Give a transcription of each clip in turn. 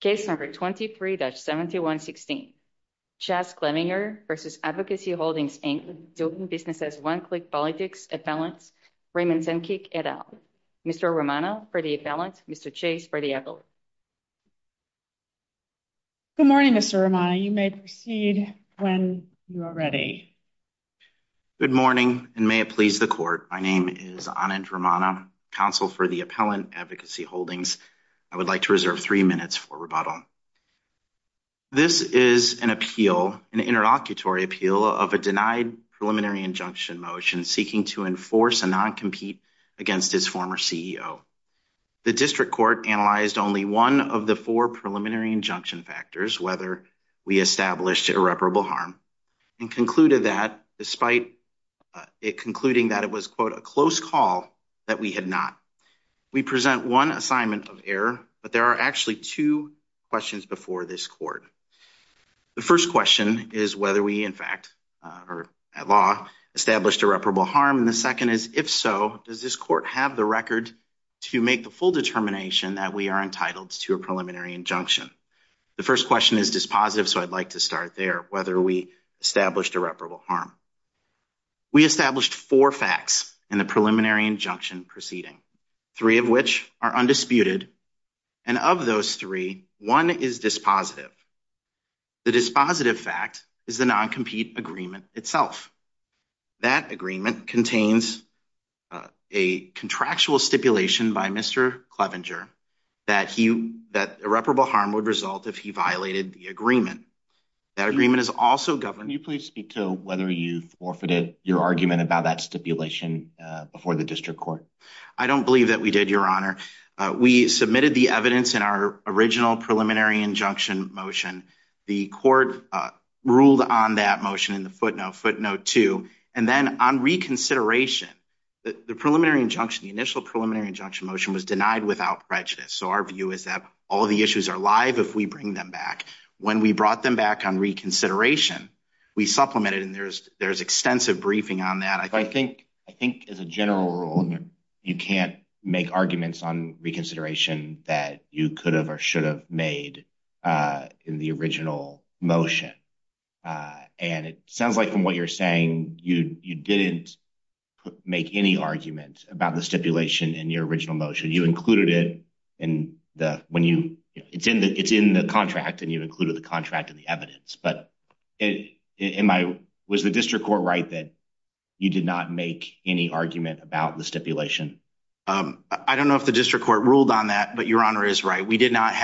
Case number 23-7116. Chazz Clevinger v. Advocacy Holdings, Inc. Business as One-Click Politics Appellant, Raymond Zenkeek, et al. Mr. Romano for the appellant, Mr. Chase for the appellant. Good morning, Mr. Romano. You may proceed when you are ready. Good morning, and may it please the Court. My name is Anand Romano, Counsel for the Appellant, Advocacy Holdings. I would like to reserve three minutes for rebuttal. This is an appeal, an interlocutory appeal, of a denied preliminary injunction motion seeking to enforce a non-compete against his former CEO. The District Court analyzed only one of the four preliminary injunction factors, whether we established irreparable harm, and concluded that, despite it concluding that it was, quote, a close call, that we had not. We present one assignment of error, but there are actually two questions before this Court. The first question is whether we, in fact, at law, established irreparable harm, and the second is, if so, does this Court have the record to make the full determination that we are entitled to a preliminary injunction? The first question is dispositive, so I'd like to start there, whether we established irreparable harm. We established four facts in the preliminary injunction proceeding, three of which are undisputed, and of those three, one is dispositive. The dispositive fact is the non-compete agreement itself. That agreement contains a contractual stipulation by Mr. Clevenger that irreparable harm would result if he violated the agreement. Can you please speak to whether you forfeited your argument about that stipulation before the District Court? I don't believe that we did, Your Honor. We submitted the evidence in our original preliminary injunction motion. The Court ruled on that motion in the footnote, footnote 2, and then, on reconsideration, the preliminary injunction, the initial preliminary injunction motion, was denied without prejudice, so our view is that all the issues are live if we bring them back. When we brought them back on reconsideration, we supplemented, and there's extensive briefing on that. I think, as a general rule, you can't make arguments on reconsideration that you could have or should have made in the original motion, and it sounds like, from what you're saying, you didn't make any argument about the stipulation in your original motion. It's in the contract, and you included the contract in the evidence, but was the District Court right that you did not make any argument about the stipulation? I don't know if the District Court ruled on that, but Your Honor is right. We did not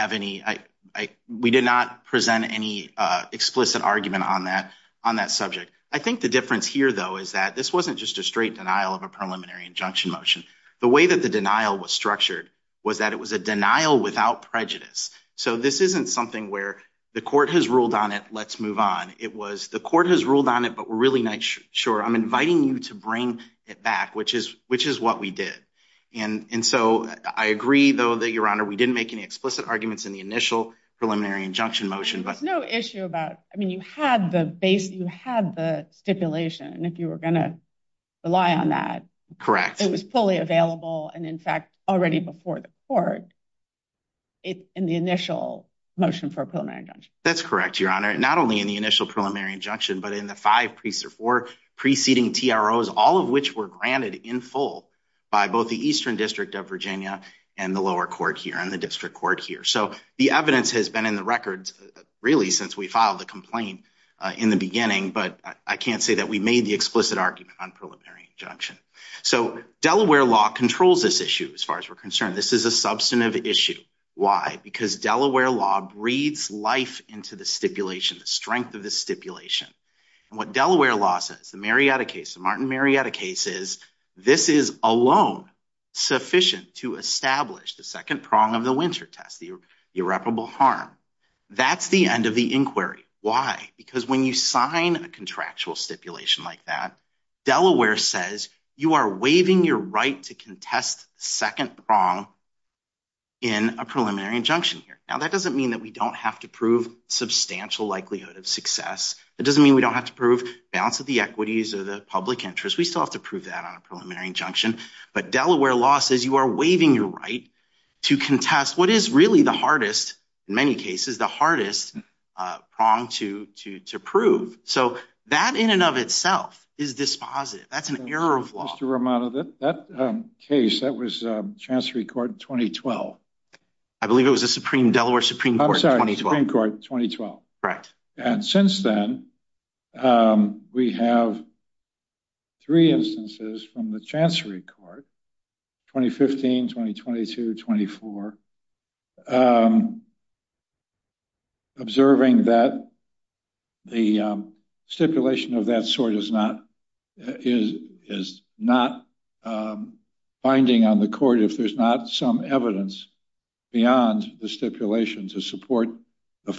present any explicit argument on that subject. I think the difference here, though, is that this wasn't just a straight denial of a preliminary injunction motion. The way that the denial was structured was that it was a denial without prejudice, so this isn't something where the court has ruled on it, let's move on. It was the court has ruled on it, but we're really not sure. I'm inviting you to bring it back, which is what we did, and so I agree, though, that, Your Honor, we didn't make any explicit arguments in the initial preliminary injunction motion. There was no issue about, I mean, you had the stipulation, and if you were going to rely on that, it was fully available and, in fact, already before the court in the initial motion for a preliminary injunction. That's correct, Your Honor, not only in the initial preliminary injunction, but in the five preceding TROs, all of which were granted in full by both the Eastern District of Virginia and the lower court here, and the district court here. So the evidence has been in the records, really, since we filed the complaint in the beginning, but I can't say that we made the explicit argument on preliminary injunction. So Delaware law controls this issue as far as we're concerned. This is a substantive issue. Because Delaware law breathes life into the stipulation, the strength of the stipulation, and what Delaware law says, the Marietta case, the Martin Marietta case, is this is alone sufficient to establish the second prong of the winter test, the irreparable harm. That's the end of the inquiry. Why? Because when you sign a contractual stipulation like that, Delaware says you are waiving your right to contest the second prong in a preliminary injunction here. Now, that doesn't mean that we don't have to prove substantial likelihood of success. It doesn't mean we don't have to prove balance of the equities or the public interest. We still have to prove that on a preliminary injunction. But Delaware law says you are waiving your right to contest what is really the hardest, in many cases, the hardest prong to prove. So that in and of itself is dispositive. That's an error of law. Mr. Romano, that case, that was Chancery Court 2012. I believe it was the Supreme – Delaware Supreme Court 2012. I'm sorry, Supreme Court 2012. Right. And since then, we have three instances from the Chancery Court, 2015, 2022, 2024, observing that the stipulation of that sort is not binding on the court if there's not some evidence beyond the stipulation to support a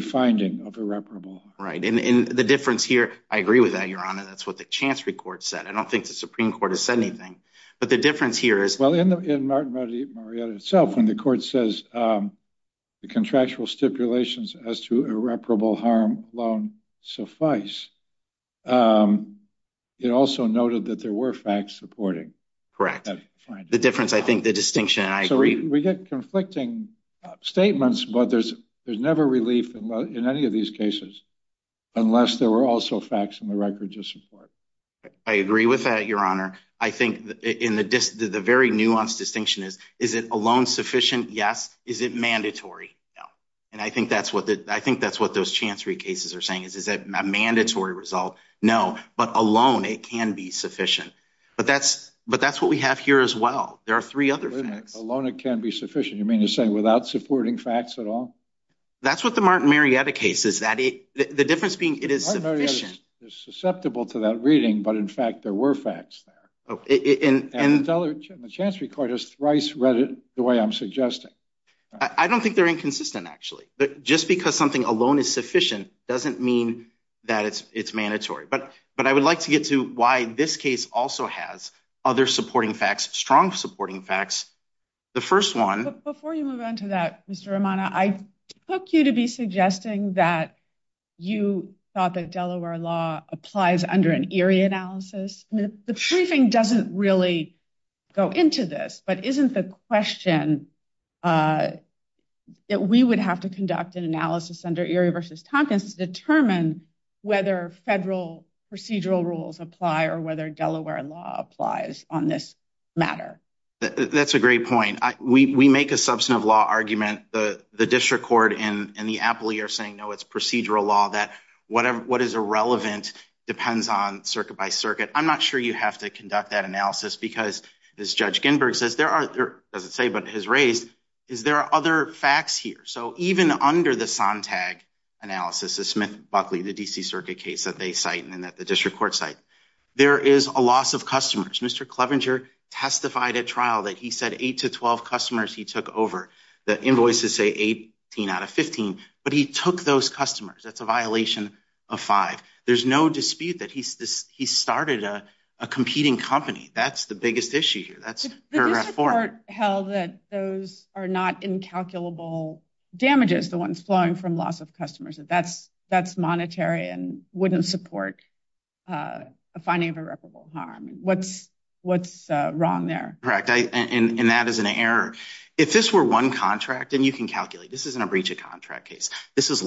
finding of irreparable harm. Right. And the difference here – I agree with that, Your Honor. That's what the Chancery Court said. I don't think the Supreme Court has said anything. But the difference here is – Well, in Marietta itself, when the court says the contractual stipulations as to irreparable harm alone suffice, it also noted that there were facts supporting that finding. Correct. The difference, I think, the distinction – So we get conflicting statements, but there's never relief in any of these cases unless there were also facts in the record to support. I agree with that, Your Honor. I think the very nuanced distinction is, is it alone sufficient? Yes. Is it mandatory? No. And I think that's what those Chancery cases are saying is, is it a mandatory result? No. But alone, it can be sufficient. But that's what we have here as well. There are three other facts. Alone, it can be sufficient. You mean to say without supporting facts at all? That's what the Martin Marietta case is. The difference being it is sufficient. Martin Marietta is susceptible to that reading, but in fact, there were facts there. And the Chancery Court has thrice read it the way I'm suggesting. I don't think they're inconsistent, actually. Just because something alone is sufficient doesn't mean that it's mandatory. But I would like to get to why this case also has other supporting facts, strong supporting facts. The first one... Before you move on to that, Mr. Romano, I took you to be suggesting that you thought that Delaware law applies under an Erie analysis. The briefing doesn't really go into this, but isn't the question that we would have to conduct an analysis under Erie v. Tompkins to determine whether federal procedural rules apply or whether Delaware law applies on this matter? That's a great point. We make a substantive law argument. The district court and the appellee are saying, no, it's procedural law, that what is irrelevant depends on circuit by circuit. I'm not sure you have to conduct that analysis because, as Judge Ginberg says, or doesn't say but has raised, is there are other facts here. So even under the Sontag analysis, the Smith-Buckley, the D.C. circuit case that they cite and that the district court cite, there is a loss of customers. Mr. Clevenger testified at trial that he said 8 to 12 customers he took over. The invoices say 18 out of 15, but he took those customers. That's a violation of 5. There's no dispute that he started a competing company. That's the biggest issue here. The district court held that those are not incalculable damages, the ones flowing from loss of customers. That's monetary and wouldn't support a finding of irreparable harm. What's wrong there? Correct. And that is an error. If this were one contract, and you can calculate, this isn't a breach of contract case. This isn't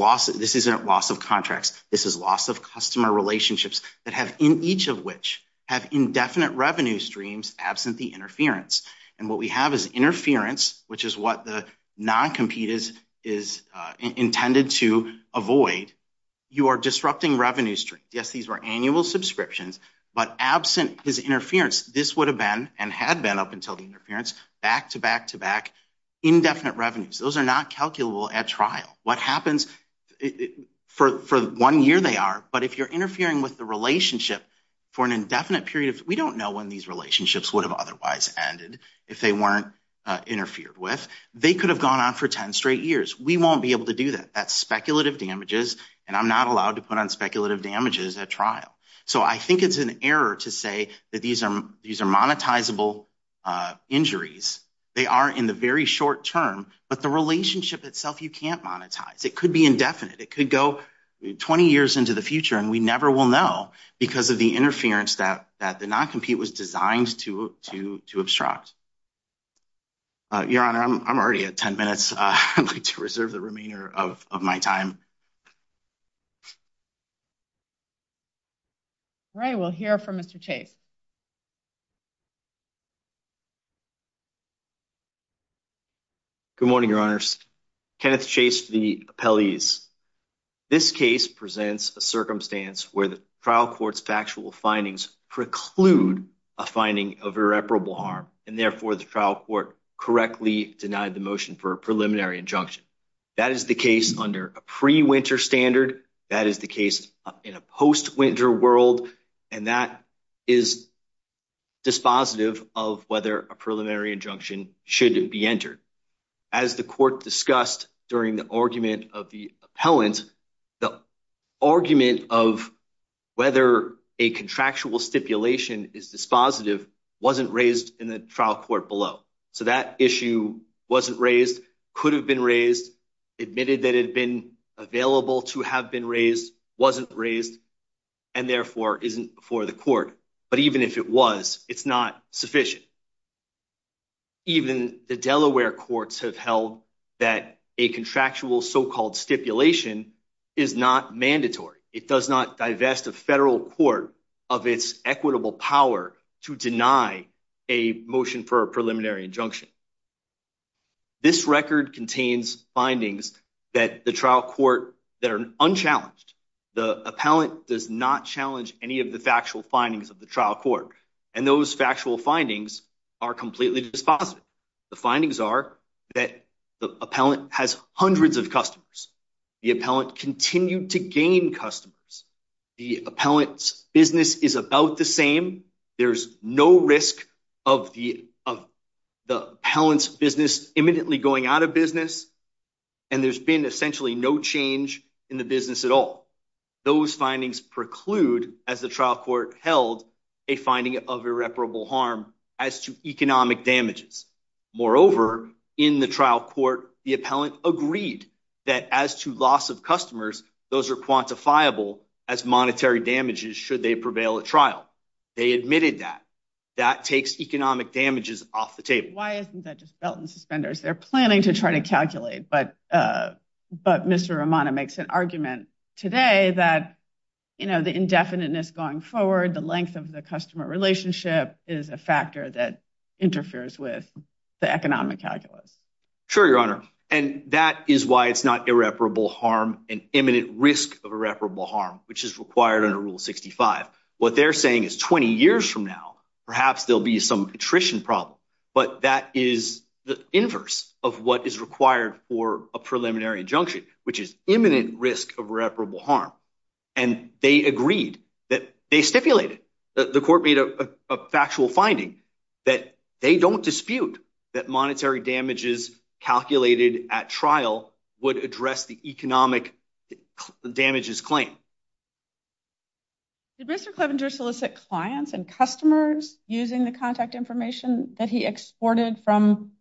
loss of contracts. This is loss of customer relationships that have, in each of which, have indefinite revenue streams absent the interference. And what we have is interference, which is what the non-compete is intended to avoid. You are disrupting revenue streams. Yes, these were annual subscriptions, but absent this interference, this would have been and had been up until the interference, back to back to back, indefinite revenues. Those are not calculable at trial. What happens for one year they are, but if you're interfering with the relationship for an indefinite period, we don't know when these relationships would have otherwise ended, if they weren't interfered with. They could have gone on for 10 straight years. We won't be able to do that. That's speculative damages, and I'm not allowed to put on speculative damages at trial. So I think it's an error to say that these are monetizable injuries. They are in the very short term, but the relationship itself you can't monetize. It could be indefinite. It could go 20 years into the future, and we never will know because of the interference that the non-compete was designed to obstruct. Your Honor, I'm already at 10 minutes. I'd like to reserve the remainder of my time. All right, we'll hear from Mr. Chase. Good morning, Your Honors. Kenneth Chase for the appellees. This case presents a circumstance where the trial court's factual findings preclude a finding of irreparable harm, and therefore the trial court correctly denied the motion for a preliminary injunction. That is the case under a pre-winter standard. That is the case in a post-winter world, and that is dispositive of whether a preliminary injunction should be entered. As the court discussed during the argument of the appellant, the argument of whether a contractual stipulation is dispositive wasn't raised in the trial court below. So that issue wasn't raised, could have been raised, admitted that it had been available to have been raised, wasn't raised, and therefore isn't before the court. But even if it was, it's not sufficient. Even the Delaware courts have held that a contractual so-called stipulation is not mandatory. It does not divest a federal court of its equitable power to deny a motion for a preliminary injunction. This record contains findings that the trial court that are unchallenged, the appellant does not challenge any of the factual findings of the trial court. And those factual findings are completely dispositive. The findings are that the appellant has hundreds of customers. The appellant continued to gain customers. The appellant's business is about the same. There's no risk of the appellant's business imminently going out of business, and there's been essentially no change in the business at all. Those findings preclude, as the trial court held, a finding of irreparable harm as to economic damages. Moreover, in the trial court, the appellant agreed that as to loss of customers, those are quantifiable as monetary damages should they prevail at trial. They admitted that. That takes economic damages off the table. Why isn't that just belt and suspenders? They're planning to try to calculate. But Mr. Romano makes an argument today that the indefiniteness going forward, the length of the customer relationship is a factor that interferes with the economic calculus. Sure, Your Honor. And that is why it's not irreparable harm, an imminent risk of irreparable harm, which is required under Rule 65. What they're saying is 20 years from now, perhaps there'll be some attrition problem, but that is the inverse of what is required for a preliminary injunction, which is imminent risk of irreparable harm. And they agreed that they stipulated that the court made a factual finding that they don't dispute that monetary damages calculated at trial would address the economic damages claim. Did Mr. Clevenger say that he exported from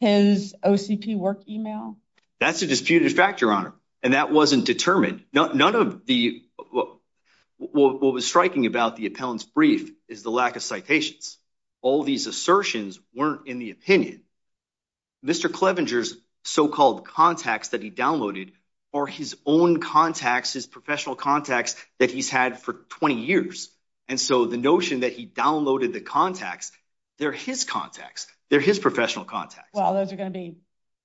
his OCP work email? That's a disputed fact, Your Honor. And that wasn't determined. None of the what was striking about the appellant's brief is the lack of citations. All these assertions weren't in the opinion. Mr. Clevenger's so-called contacts that he downloaded or his own contacts, his professional contacts that he's had for 20 years. And so the notion that he downloaded the contacts, they're his contacts, they're his professional contacts. Well, those are going to be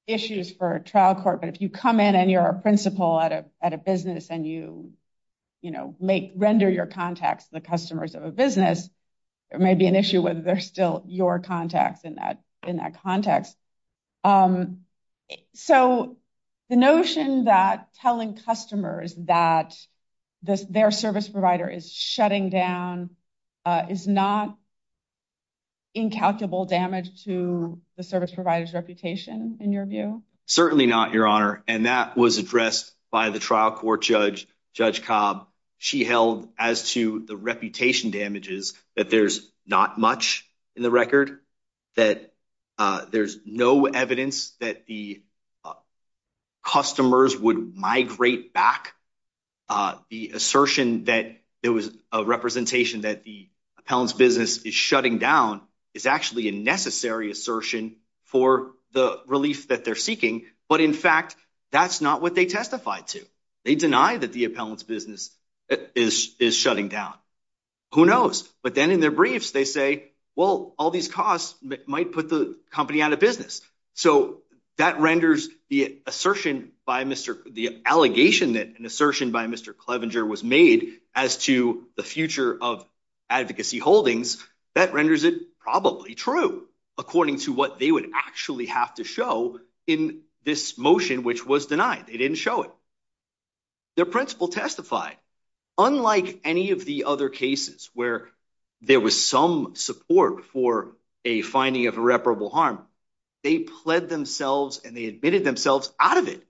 issues for trial court. But if you come in and you're a principal at a, at a business and you, you know, make, render your contacts, the customers of a business, there may be an issue with, they're still your contacts in that, in that context. So the notion that telling customers that this, Their service provider is shutting down, is not incalculable damage to the service provider's reputation in your view? Certainly not, Your Honor. And that was addressed by the trial court judge, Judge Cobb. She held as to the reputation damages, that there's not much in the record, that there's no evidence that the customers would migrate back. The assertion that there was a representation that the appellant's business is shutting down is actually a necessary assertion for the relief that they're But in fact, that's not what they testified to. They deny that the appellant's business is, is shutting down. Who knows? But then in their briefs, they say, well, all these costs might put the company out of business. So that renders the assertion by Mr. The allegation that an assertion by Mr. Clevenger was made as to the future of advocacy holdings. That renders it probably true, according to what they would actually have to show in this motion, which was denied. They didn't show it. Their principal testified, unlike any of the other cases where there was some support for a finding of irreparable harm, they pled themselves and they admitted themselves out of it.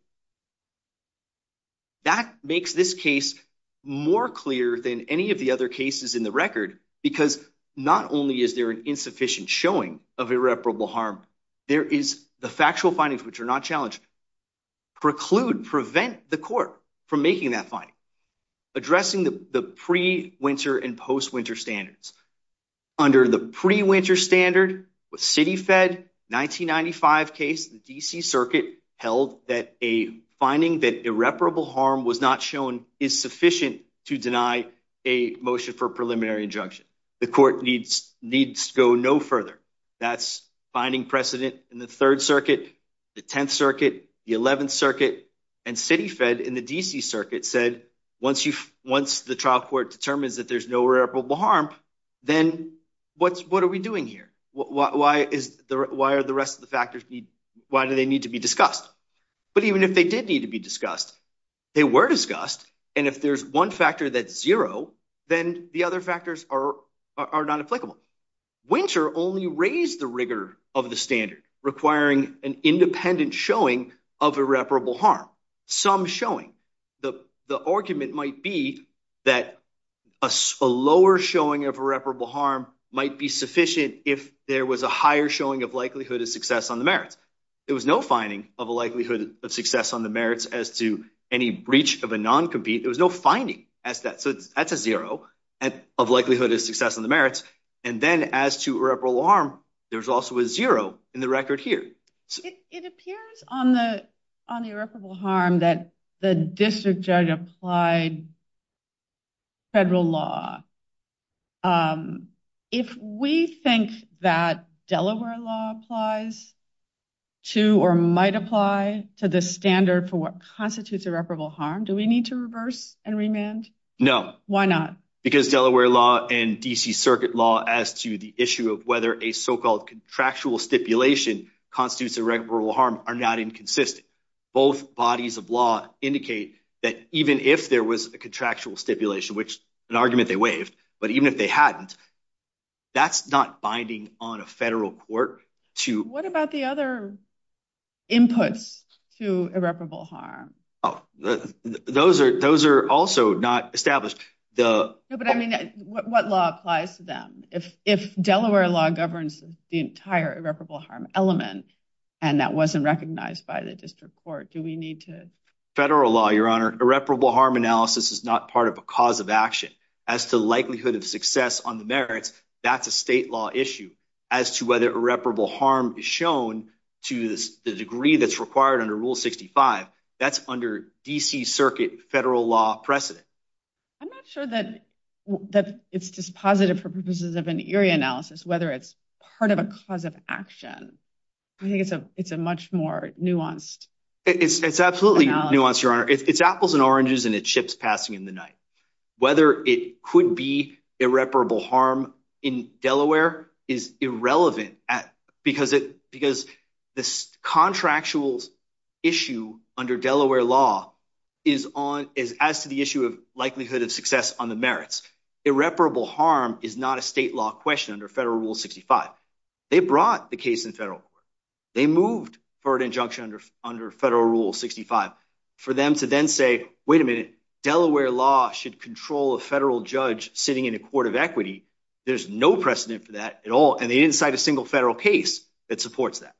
That makes this case more clear than any of the other cases in the record, because not only is there an insufficient showing of irreparable harm, there is the factual findings, which are not challenged. Preclude, prevent the court from making that finding. Addressing the pre-winter and post-winter standards. Under the pre-winter standard with city fed 1995 case, the D.C. circuit held that a finding that irreparable harm was not shown is sufficient to deny a motion for preliminary injunction. The court needs needs to go no further. That's finding precedent in the third circuit, the 10th circuit, the 11th circuit and city fed in the D.C. Once the trial court determines that there's no irreparable harm, then what are we doing here? Why are the rest of the factors, why do they need to be discussed? But even if they did need to be discussed, they were discussed. And if there's one factor that's zero, then the other factors are not applicable. Winter only raised the rigor of the standard, requiring an independent showing of irreparable harm. Some showing. The argument might be that a lower showing of irreparable harm might be sufficient if there was a higher showing of likelihood of success on the merits. There was no finding of a likelihood of success on the merits as to any breach of a non-compete. There was no finding. So that's a zero of likelihood of success on the merits. And then as to irreparable harm, there's also a zero in the record here. It appears on the irreparable harm that the district judge applied federal law. If we think that Delaware law applies to or might apply to the standard for what constitutes irreparable harm, do we need to reverse and remand? No. Why not? Because Delaware law and D.C. are not inconsistent. Both bodies of law indicate that even if there was a contractual stipulation, which is an argument they waived, but even if they hadn't, that's not binding on a federal court. What about the other inputs to irreparable harm? Those are also not established. What law applies to them? If Delaware law governs the entire irreparable harm element, and that wasn't recognized by the district court, do we need to? Federal law, Your Honor. Irreparable harm analysis is not part of a cause of action. As to likelihood of success on the merits, that's a state law issue. As to whether irreparable harm is shown to the degree that's required under Rule 65, that's under D.C. Circuit federal law precedent. I'm not sure that it's dispositive for purposes of an area analysis, whether it's part of a cause of action. I think it's a much more nuanced. It's absolutely nuanced, Your Honor. It's apples and oranges, and it ships passing in the night. Whether it could be irreparable harm in Delaware is irrelevant, because the contractual issue under Delaware law is as to the issue of likelihood of success on the merits. Irreparable harm is not a state law question under federal Rule 65. They brought the case in federal court. They moved for an injunction under federal Rule 65. For them to then say, wait a minute, Delaware law should control a federal judge sitting in a court of equity, there's no precedent for that at all. And they didn't cite a single federal case that supports that.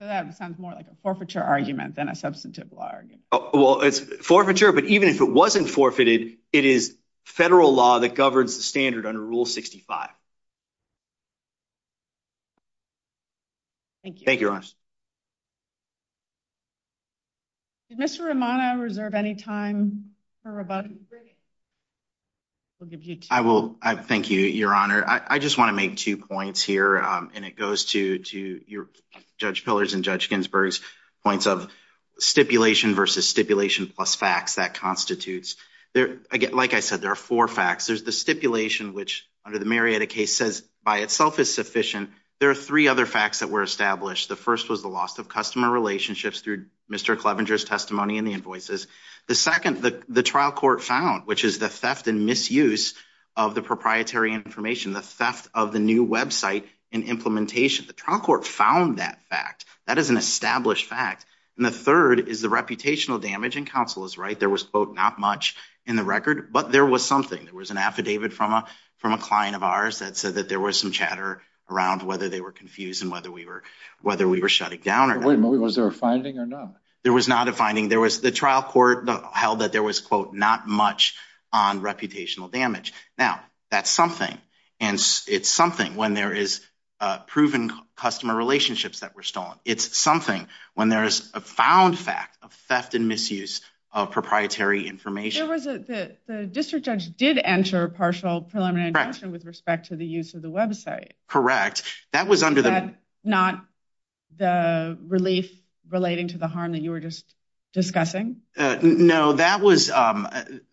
That sounds more like a forfeiture argument than a substantive law argument. Well, it's forfeiture, but even if it wasn't forfeited, it is federal law that governs the standard under Rule 65. Thank you. Thank you, Your Honor. Did Mr. Romano reserve any time for rebuttal? I will. Thank you, Your Honor. I just want to make two points here, and it goes to Judge Pillars and Judge Ginsburg's points of stipulation versus stipulation plus facts. That constitutes, like I said, there are four facts. There's the stipulation, which, under the Marietta case, says by itself is sufficient. There are three other facts that were established. The first was the loss of customer relationships through Mr. Clevenger's testimony and the invoices. The second, the trial court found, which is the theft and misuse of the proprietary information, the theft of the new website and implementation. The trial court found that fact. That is an established fact. And the third is the reputational damage, and counsel is right. There was, quote, not much in the record, but there was something. There was an affidavit from a client of ours that said that there was some chatter around whether they were confused and whether we were shutting down. Wait a minute. Was there a finding or not? There was not a finding. There was the trial court held that there was, quote, not much on reputational damage. Now, that's something. And it's something when there is proven customer relationships that were It's something when there is a found fact of theft and misuse of proprietary information. The district judge did enter partial preliminary action with respect to the use of the website. Correct. That was under the. Not the relief relating to the harm that you were just discussing. No, that was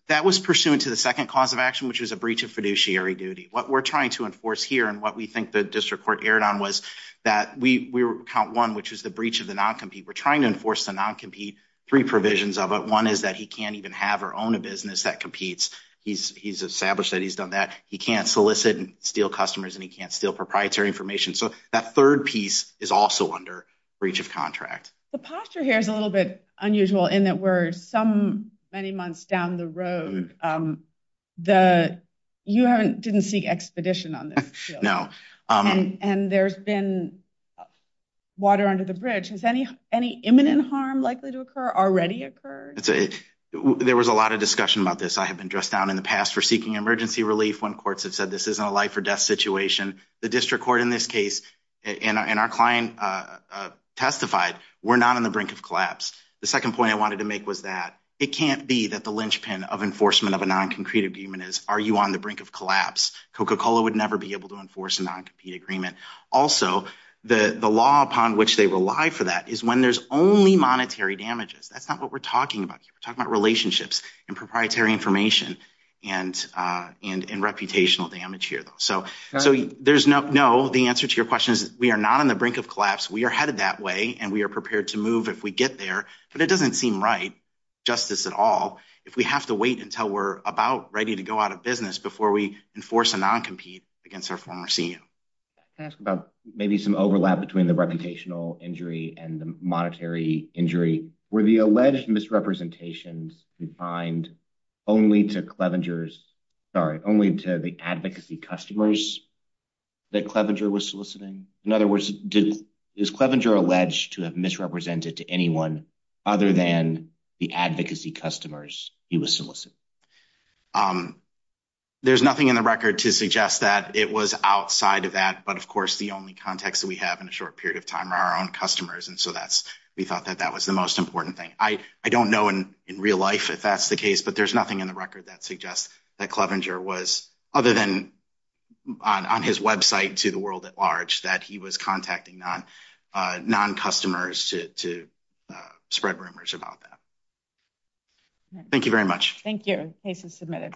that was pursuant to the second cause of action, which was a breach of fiduciary duty. What we're trying to enforce here and what we think the district court aired on was that we were count one, which was the breach of the non-compete. We're trying to enforce the non-compete three provisions of it. One is that he can't even have or own a business that competes. He's established that he's done that. He can't solicit and steal customers and he can't steal proprietary information. So that third piece is also under breach of contract. The posture here is a little bit unusual in that we're some many months down the road. The you haven't didn't seek expedition on this. No. And there's been water under the bridge. Has any, any imminent harm likely to occur already occurred? There was a lot of discussion about this. I have been dressed down in the past for seeking emergency relief. When courts have said, this isn't a life or death situation. The district court in this case and our client testified, we're not on the brink of collapse. The second point I wanted to make was that it can't be that the linchpin of enforcement of a non-concrete agreement is, are you on the brink of collapse? Coca-Cola would never be able to enforce a non-compete agreement. Also the law upon which they rely for that is when there's only monetary damages. That's not what we're talking about here. We're talking about relationships and proprietary information and and, and reputational damage here though. So, so there's no, no, the answer to your question is we are not on the brink of collapse. We are headed that way and we are prepared to move if we get there, but it doesn't seem right justice at all. If we have to wait until we're about ready to go out of business before we enforce a non-compete against our former CEO. Ask about maybe some overlap between the reputational injury and the monetary injury where the alleged misrepresentations we find only to the advocacy customers that Clevenger was soliciting. In other words, is Clevenger alleged to have misrepresented to anyone other than the advocacy customers he was soliciting? There's nothing in the record to suggest that it was outside of that, but of course the only context that we have in a short period of time are our own customers. And so that's, we thought that that was the most important thing. I don't know in real life if that's the case, but there's nothing in the record that suggests that Clevenger was other than on, on his website to the world at large that he was contacting non non customers to, to spread rumors about that. Thank you very much. Thank you submitted.